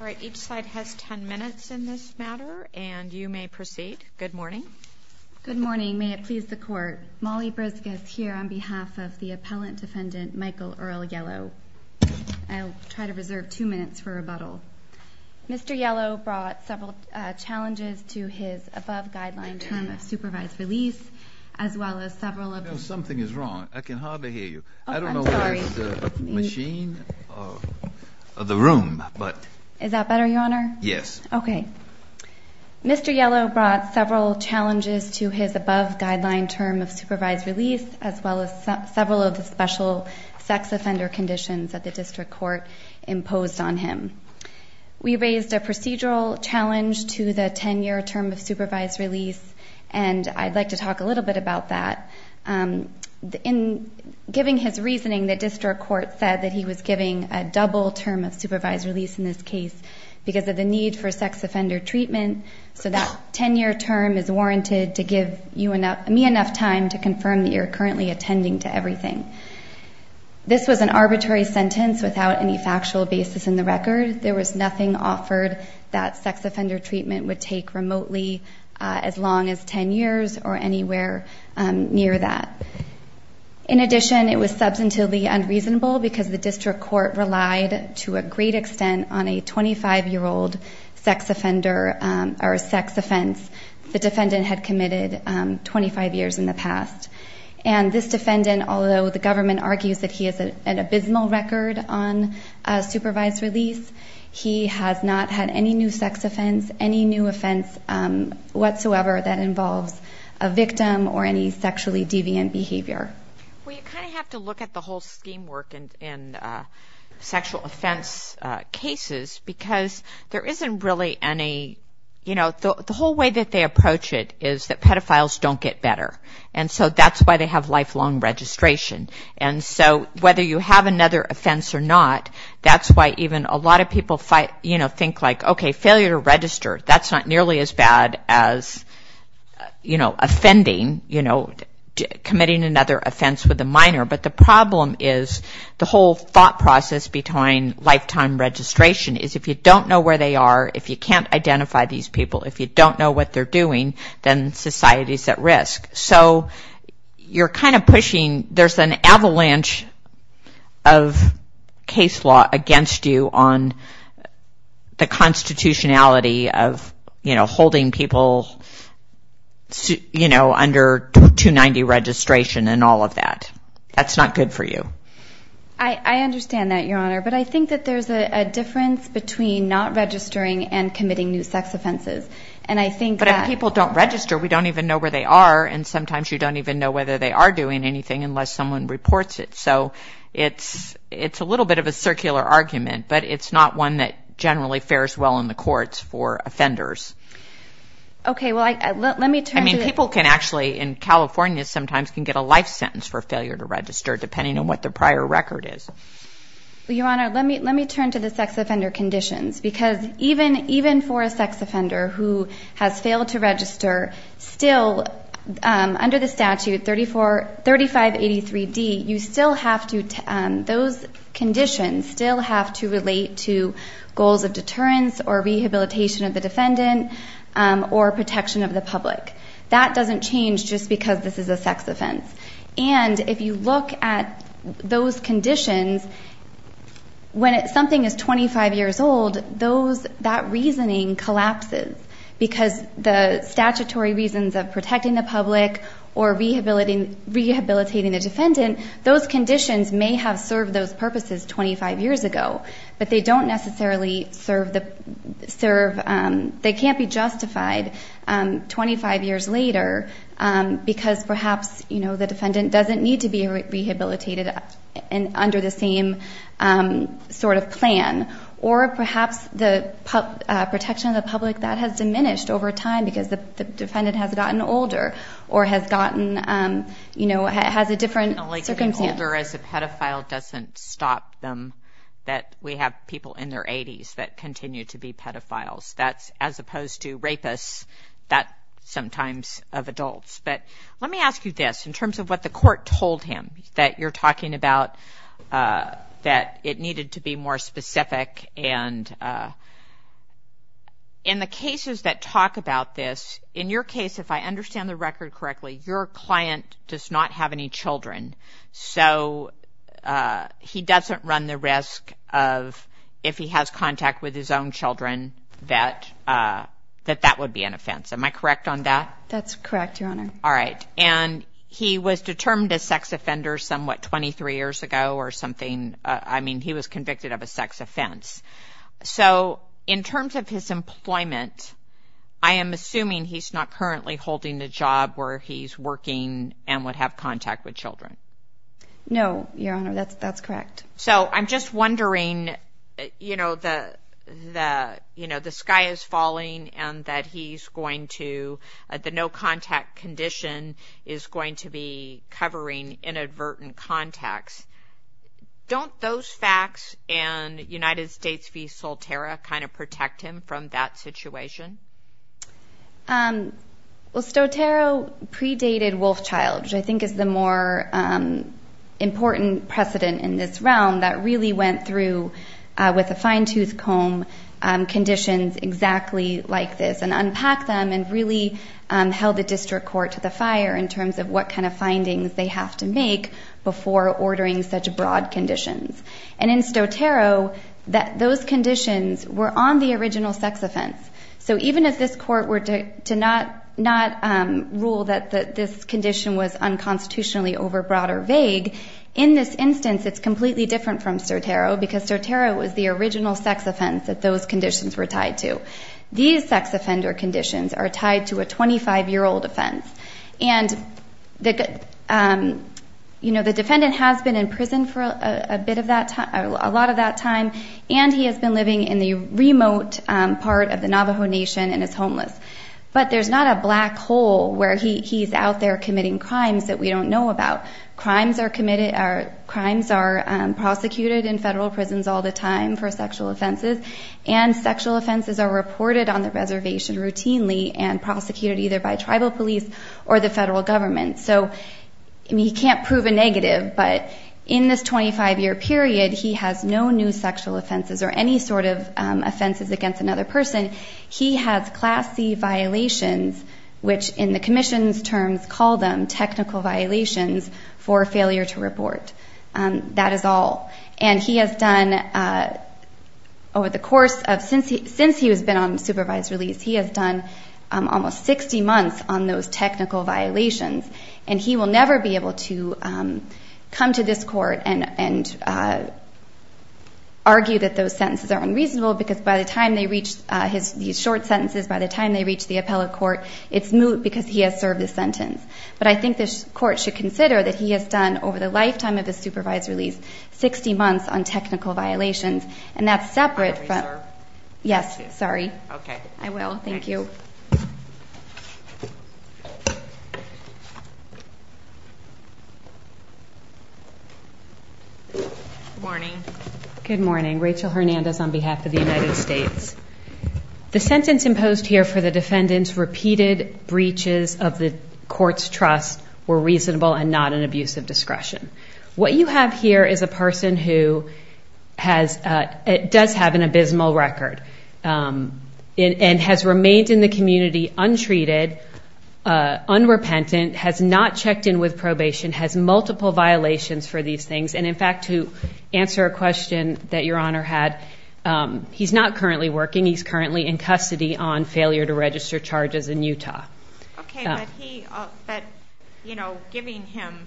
All right, each side has 10 minutes in this matter, and you may proceed. Good morning. Good morning. May it please the Court, Molly Briscus here on behalf of the Appellant Defendant Michael Earl Yellow. I'll try to reserve two minutes for rebuttal. Mr. Yellow brought several challenges to his above-guideline term of supervised release, as well as several of the— Is that better, Your Honor? Yes. Okay. Mr. Yellow brought several challenges to his above-guideline term of supervised release, as well as several of the special sex offender conditions that the District Court imposed on him. We raised a procedural challenge to the 10-year term of supervised release, and I'd like to talk a little bit about that. In giving his reasoning, the District Court said that he was giving a double term of supervised release in this case because of the need for sex offender treatment, so that 10-year term is warranted to give you enough— me enough time to confirm that you're currently attending to everything. This was an arbitrary sentence without any factual basis in the record. There was nothing offered that sex offender treatment would take remotely as long as 10 years or anywhere near that. In addition, it was substantively unreasonable because the District Court relied to a great extent on a 25-year-old sex offender or sex offense the defendant had committed 25 years in the past. And this defendant, although the government argues that he has an abysmal record on supervised release, he has not had any new sex offense, any new offense whatsoever that involves a victim or any sexually deviant behavior. Well, you kind of have to look at the whole scheme work in sexual offense cases because there isn't really any— you know, the whole way that they approach it is that pedophiles don't get better. And so that's why they have lifelong registration. And so whether you have another offense or not, that's why even a lot of people, you know, think like, okay, failure to register, that's not nearly as bad as, you know, offending, you know, committing another offense with a minor. But the problem is the whole thought process between lifetime registration is if you don't know where they are, if you can't identify these people, if you don't know what they're doing, then society's at risk. So you're kind of pushing—there's an avalanche of case law against you on the constitutionality of, you know, holding people, you know, under 290 registration and all of that. That's not good for you. I understand that, Your Honor. But I think that there's a difference between not registering and committing new sex offenses. And I think that— But if people don't register, we don't even know where they are, and sometimes you don't even know whether they are doing anything unless someone reports it. So it's a little bit of a circular argument, but it's not one that generally fares well in the courts for offenders. Okay. Well, let me turn to— I mean, people can actually in California sometimes can get a life sentence for failure to register, depending on what their prior record is. Well, Your Honor, let me turn to the sex offender conditions, because even for a sex offender who has failed to register, still under the statute 3583D, you still have to—those conditions still have to relate to goals of deterrence or rehabilitation of the defendant or protection of the public. That doesn't change just because this is a sex offense. And if you look at those conditions, when something is 25 years old, that reasoning collapses, because the statutory reasons of protecting the public or rehabilitating the defendant, those conditions may have served those purposes 25 years ago, but they don't necessarily serve—they can't be justified 25 years later, because perhaps, you know, the defendant doesn't need to be rehabilitated under the same sort of plan. Or perhaps the protection of the public, that has diminished over time, because the defendant has gotten older or has gotten—you know, has a different circumstance. Getting older as a pedophile doesn't stop them. We have people in their 80s that continue to be pedophiles. That's—as opposed to rapists, that's sometimes of adults. But let me ask you this, in terms of what the court told him that you're talking about, that it needed to be more specific. And in the cases that talk about this, in your case, if I understand the record correctly, your client does not have any children, so he doesn't run the risk of, if he has contact with his own children, that that would be an offense. Am I correct on that? That's correct, Your Honor. All right. And he was determined a sex offender some, what, 23 years ago or something? I mean, he was convicted of a sex offense. So in terms of his employment, I am assuming he's not currently holding a job where he's working and would have contact with children. No, Your Honor. That's correct. So I'm just wondering, you know, the sky is falling and that he's going to— the no-contact condition is going to be covering inadvertent contacts. Don't those facts and United States v. Solterra kind of protect him from that situation? Well, Soterra predated Wolfchild, which I think is the more important precedent in this realm, that really went through with a fine-tooth comb conditions exactly like this and unpacked them and really held the district court to the fire in terms of what kind of findings they have to make before ordering such broad conditions. And in Soterra, those conditions were on the original sex offense. So even if this court were to not rule that this condition was unconstitutionally overbroad or vague, in this instance it's completely different from Soterra because Soterra was the original sex offense that those conditions were tied to. These sex offender conditions are tied to a 25-year-old offense. And, you know, the defendant has been in prison for a lot of that time, and he has been living in the remote part of the Navajo Nation and is homeless. But there's not a black hole where he's out there committing crimes that we don't know about. Crimes are prosecuted in federal prisons all the time for sexual offenses, and sexual offenses are reported on the reservation routinely and prosecuted either by tribal police or the federal government. So he can't prove a negative, but in this 25-year period, he has no new sexual offenses or any sort of offenses against another person. He has Class C violations, which in the commission's terms, call them technical violations for failure to report. That is all. And he has done over the course of since he has been on supervised release, he has done almost 60 months on those technical violations, and he will never be able to come to this court and argue that those sentences are unreasonable because by the time they reach his short sentences, by the time they reach the appellate court, it's moot because he has served his sentence. But I think this court should consider that he has done over the lifetime of his supervised release 60 months on technical violations, and that's separate. Yes, sorry. Okay. I will. Thank you. Good morning. Good morning. Rachel Hernandez on behalf of the United States. The sentence imposed here for the defendant's repeated breaches of the court's trust were reasonable and not an abuse of discretion. What you have here is a person who does have an abysmal record and has remained in the community untreated, unrepentant, has not checked in with probation, has multiple violations for these things. And, in fact, to answer a question that Your Honor had, he's not currently working. He's currently in custody on failure to register charges in Utah. Okay. But, you know, giving him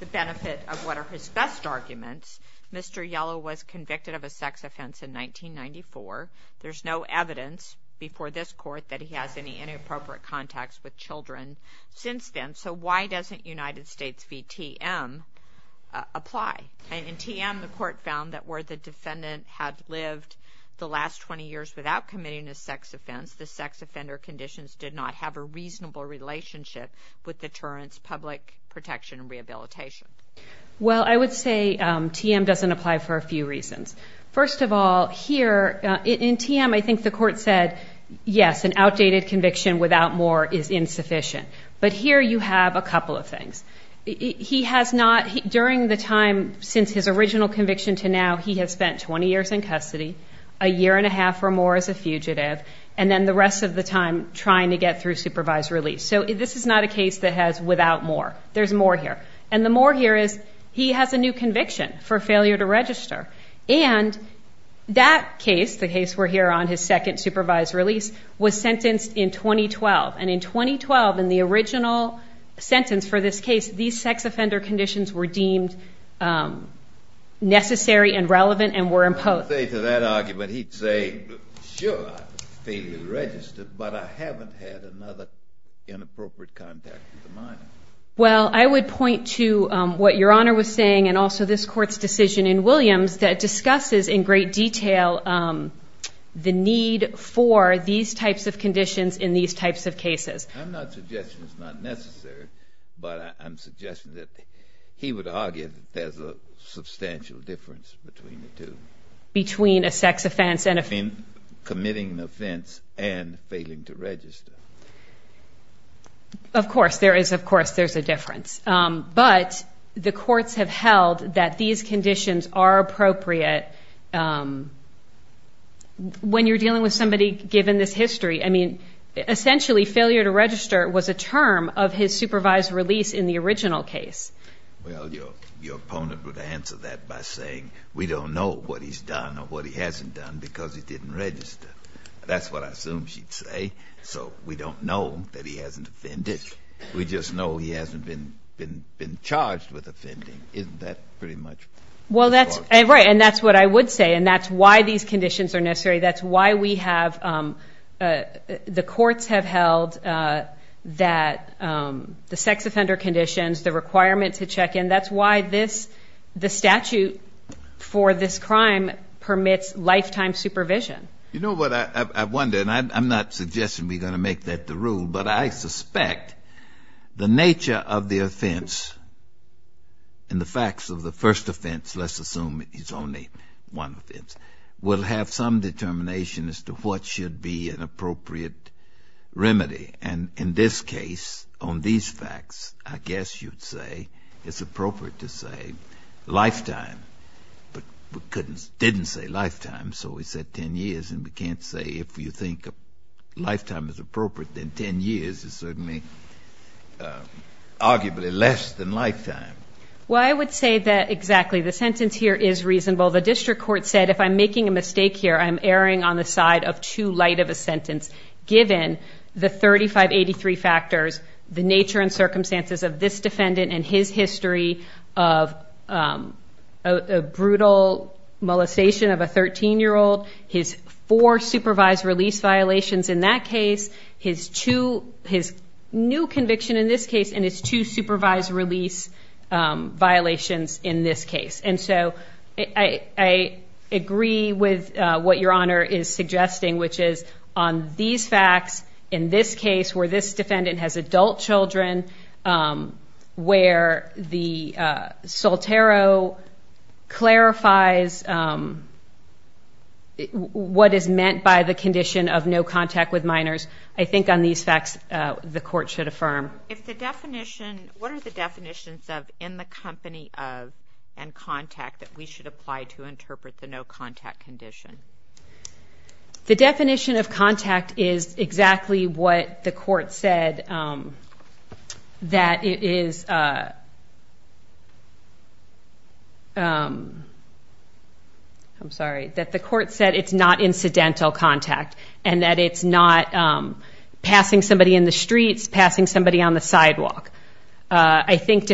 the benefit of what are his best arguments, Mr. Yellow was convicted of a sex offense in 1994. There's no evidence before this court that he has any inappropriate contacts with children since then. So why doesn't United States v. TM apply? In TM, the court found that where the defendant had lived the last 20 years without committing a sex offense, the sex offender conditions did not have a reasonable relationship with deterrence, public protection, and rehabilitation. Well, I would say TM doesn't apply for a few reasons. First of all, here, in TM, I think the court said, yes, an outdated conviction without more is insufficient. But here you have a couple of things. He has not, during the time since his original conviction to now, he has spent 20 years in custody, a year and a half or more as a fugitive, and then the rest of the time trying to get through supervised release. So this is not a case that has without more. There's more here. And the more here is he has a new conviction for failure to register. And that case, the case we're here on, his second supervised release, was sentenced in 2012. And in 2012, in the original sentence for this case, these sex offender conditions were deemed necessary and relevant and were imposed. To that argument, he'd say, sure, I failed to register, but I haven't had another inappropriate contact with a minor. Well, I would point to what Your Honor was saying and also this court's decision in Williams that discusses in great detail the need for these types of conditions in these types of cases. I'm not suggesting it's not necessary, but I'm suggesting that he would argue that there's a substantial difference between the two. Between a sex offense and a... Committing an offense and failing to register. Of course, there is, of course, there's a difference. But the courts have held that these conditions are appropriate. When you're dealing with somebody given this history, I mean, essentially failure to register was a term of his supervised release in the original case. Well, your opponent would answer that by saying we don't know what he's done or what he hasn't done because he didn't register. That's what I assume she'd say. So we don't know that he hasn't offended. We just know he hasn't been charged with offending. Isn't that pretty much... Well, that's right, and that's what I would say. And that's why these conditions are necessary. That's why we have the courts have held that the sex offender conditions, the requirement to check in, that's why the statute for this crime permits lifetime supervision. You know what I wonder, and I'm not suggesting we're going to make that the rule, but I suspect the nature of the offense and the facts of the first offense, let's assume it's only one offense, will have some determination as to what should be an appropriate remedy. And in this case, on these facts, I guess you'd say it's appropriate to say lifetime. But we didn't say lifetime, so we said 10 years, and we can't say if you think lifetime is appropriate, then 10 years is certainly arguably less than lifetime. Well, I would say that exactly. The sentence here is reasonable. The district court said if I'm making a mistake here, I'm erring on the side of too light of a sentence, given the 3583 factors, the nature and circumstances of this defendant and his history of a brutal molestation of a 13-year-old, his four supervised release violations in that case, his new conviction in this case, and his two supervised release violations in this case. And so I agree with what Your Honor is suggesting, which is on these facts in this case where this defendant has adult children, where the soltero clarifies what is meant by the condition of no contact with minors, I think on these facts the court should affirm. If the definition, what are the definitions of in the company of and contact that we should apply to interpret the no contact condition? The definition of contact is exactly what the court said, that it is, I'm sorry, that the court said it's not incidental contact and that it's not passing somebody in the streets, passing somebody on the sidewalk. I think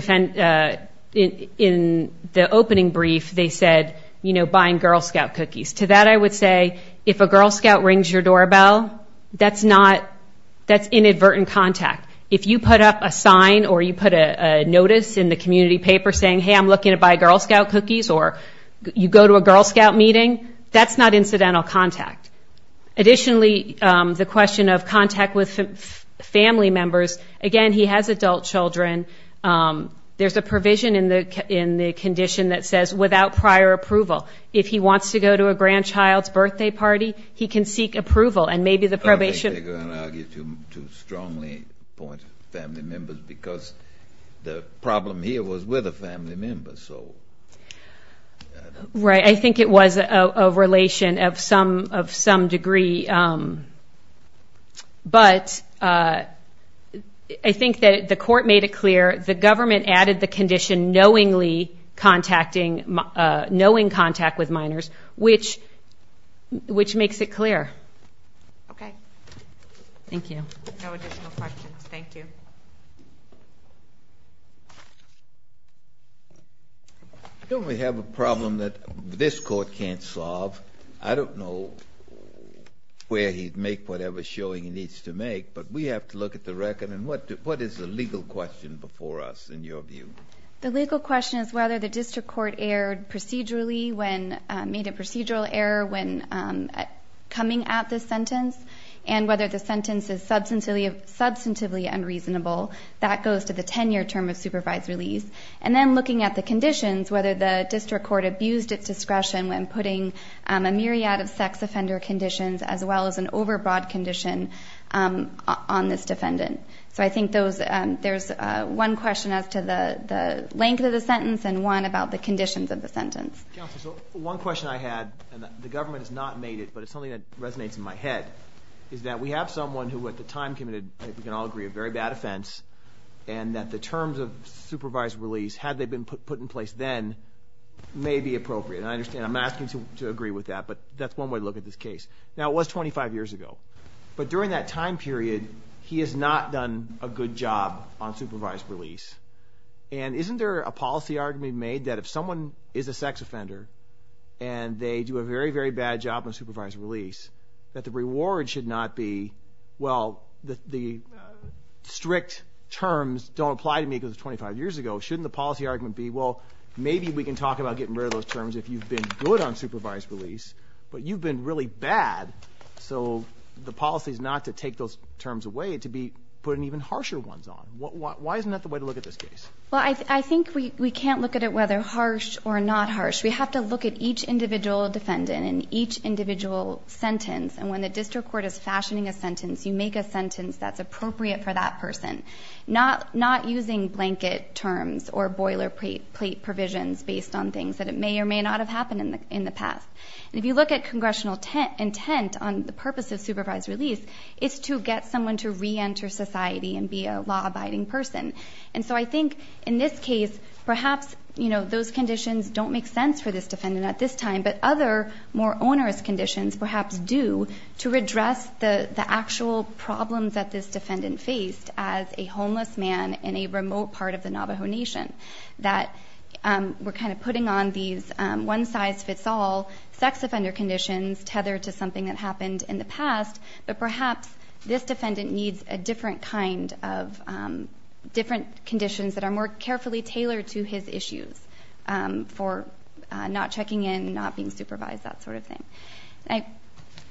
in the opening brief they said, you know, buying Girl Scout cookies. To that I would say if a Girl Scout rings your doorbell, that's not, that's inadvertent contact. If you put up a sign or you put a notice in the community paper saying, hey, I'm looking to buy Girl Scout cookies, or you go to a Girl Scout meeting, that's not incidental contact. Additionally, the question of contact with family members, again, he has adult children. There's a provision in the condition that says without prior approval. If he wants to go to a grandchild's birthday party, he can seek approval, and maybe the probation. I think they're going to argue to strongly appoint family members because the problem here was with a family member, so. Right, I think it was a relation of some degree. The government added the condition knowingly contacting, knowing contact with minors, which makes it clear. Okay. Thank you. No additional questions. Thank you. Don't we have a problem that this court can't solve? I don't know where he'd make whatever showing he needs to make, but we have to look at the record, and what is the legal question before us in your view? The legal question is whether the district court made a procedural error when coming at this sentence and whether the sentence is substantively unreasonable. That goes to the 10-year term of supervised release. And then looking at the conditions, whether the district court abused its discretion when putting a myriad of sex offender conditions as well as an overbroad condition on this defendant. So I think there's one question as to the length of the sentence and one about the conditions of the sentence. Counsel, so one question I had, and the government has not made it, but it's something that resonates in my head, is that we have someone who at the time committed, I think we can all agree, a very bad offense, and that the terms of supervised release, had they been put in place then, may be appropriate. And I understand, I'm asking you to agree with that, but that's one way to look at this case. Now, it was 25 years ago. But during that time period, he has not done a good job on supervised release. And isn't there a policy argument made that if someone is a sex offender and they do a very, very bad job on supervised release, that the reward should not be, well, the strict terms don't apply to me because it was 25 years ago. Shouldn't the policy argument be, well, maybe we can talk about getting rid of those terms if you've been good on supervised release, but you've been really bad. So the policy is not to take those terms away, to be putting even harsher ones on. Why isn't that the way to look at this case? Well, I think we can't look at it whether harsh or not harsh. We have to look at each individual defendant and each individual sentence. And when the district court is fashioning a sentence, you make a sentence that's appropriate for that person. Not using blanket terms or boilerplate provisions based on things that may or may not have happened in the past. And if you look at congressional intent on the purpose of supervised release, it's to get someone to reenter society and be a law-abiding person. And so I think in this case, perhaps those conditions don't make sense for this defendant at this time, but other more onerous conditions perhaps do to redress the actual problems that this defendant faced as a homeless man in a remote part of the Navajo Nation. That we're kind of putting on these one-size-fits-all sex offender conditions tethered to something that happened in the past, but perhaps this defendant needs a different kind of different conditions that are more carefully tailored to his issues for not checking in, not being supervised, that sort of thing.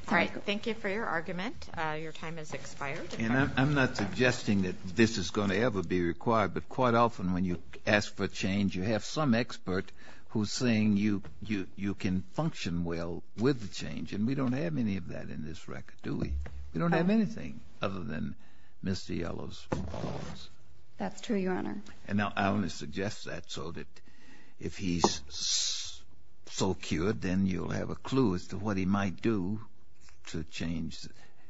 All right, thank you for your argument. Your time has expired. And I'm not suggesting that this is going to ever be required, but quite often when you ask for change, you have some expert who's saying you can function well with the change. And we don't have any of that in this record, do we? We don't have anything other than Mr. Yellow's laws. That's true, Your Honor. And now I only suggest that so that if he's so cured, then you'll have a clue as to what he might do to change.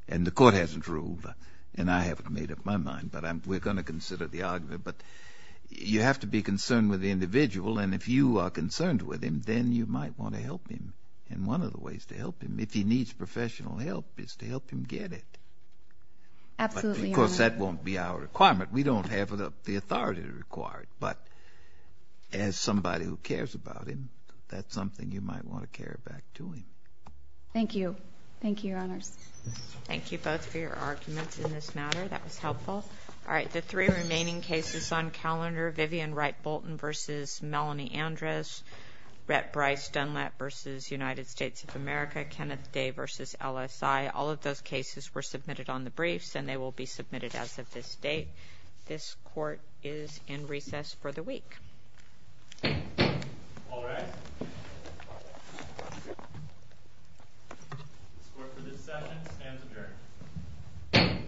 And the court hasn't ruled, and I haven't made up my mind, but we're going to consider the argument. But you have to be concerned with the individual, and if you are concerned with him, then you might want to help him. And one of the ways to help him, if he needs professional help, is to help him get it. Absolutely, Your Honor. Of course, that won't be our requirement. We don't have the authority to require it. But as somebody who cares about him, that's something you might want to carry back to him. Thank you. Thank you, Your Honors. Thank you both for your arguments in this matter. That was helpful. All right, the three remaining cases on calendar, Vivian Wright Bolton v. Melanie Andres, Rhett Bryce Dunlap v. United States of America, Kenneth Day v. LSI, all of those cases were submitted on the briefs, and they will be submitted as of this date. This court is in recess for the week. All rise. The score for this settlement stands adjourned.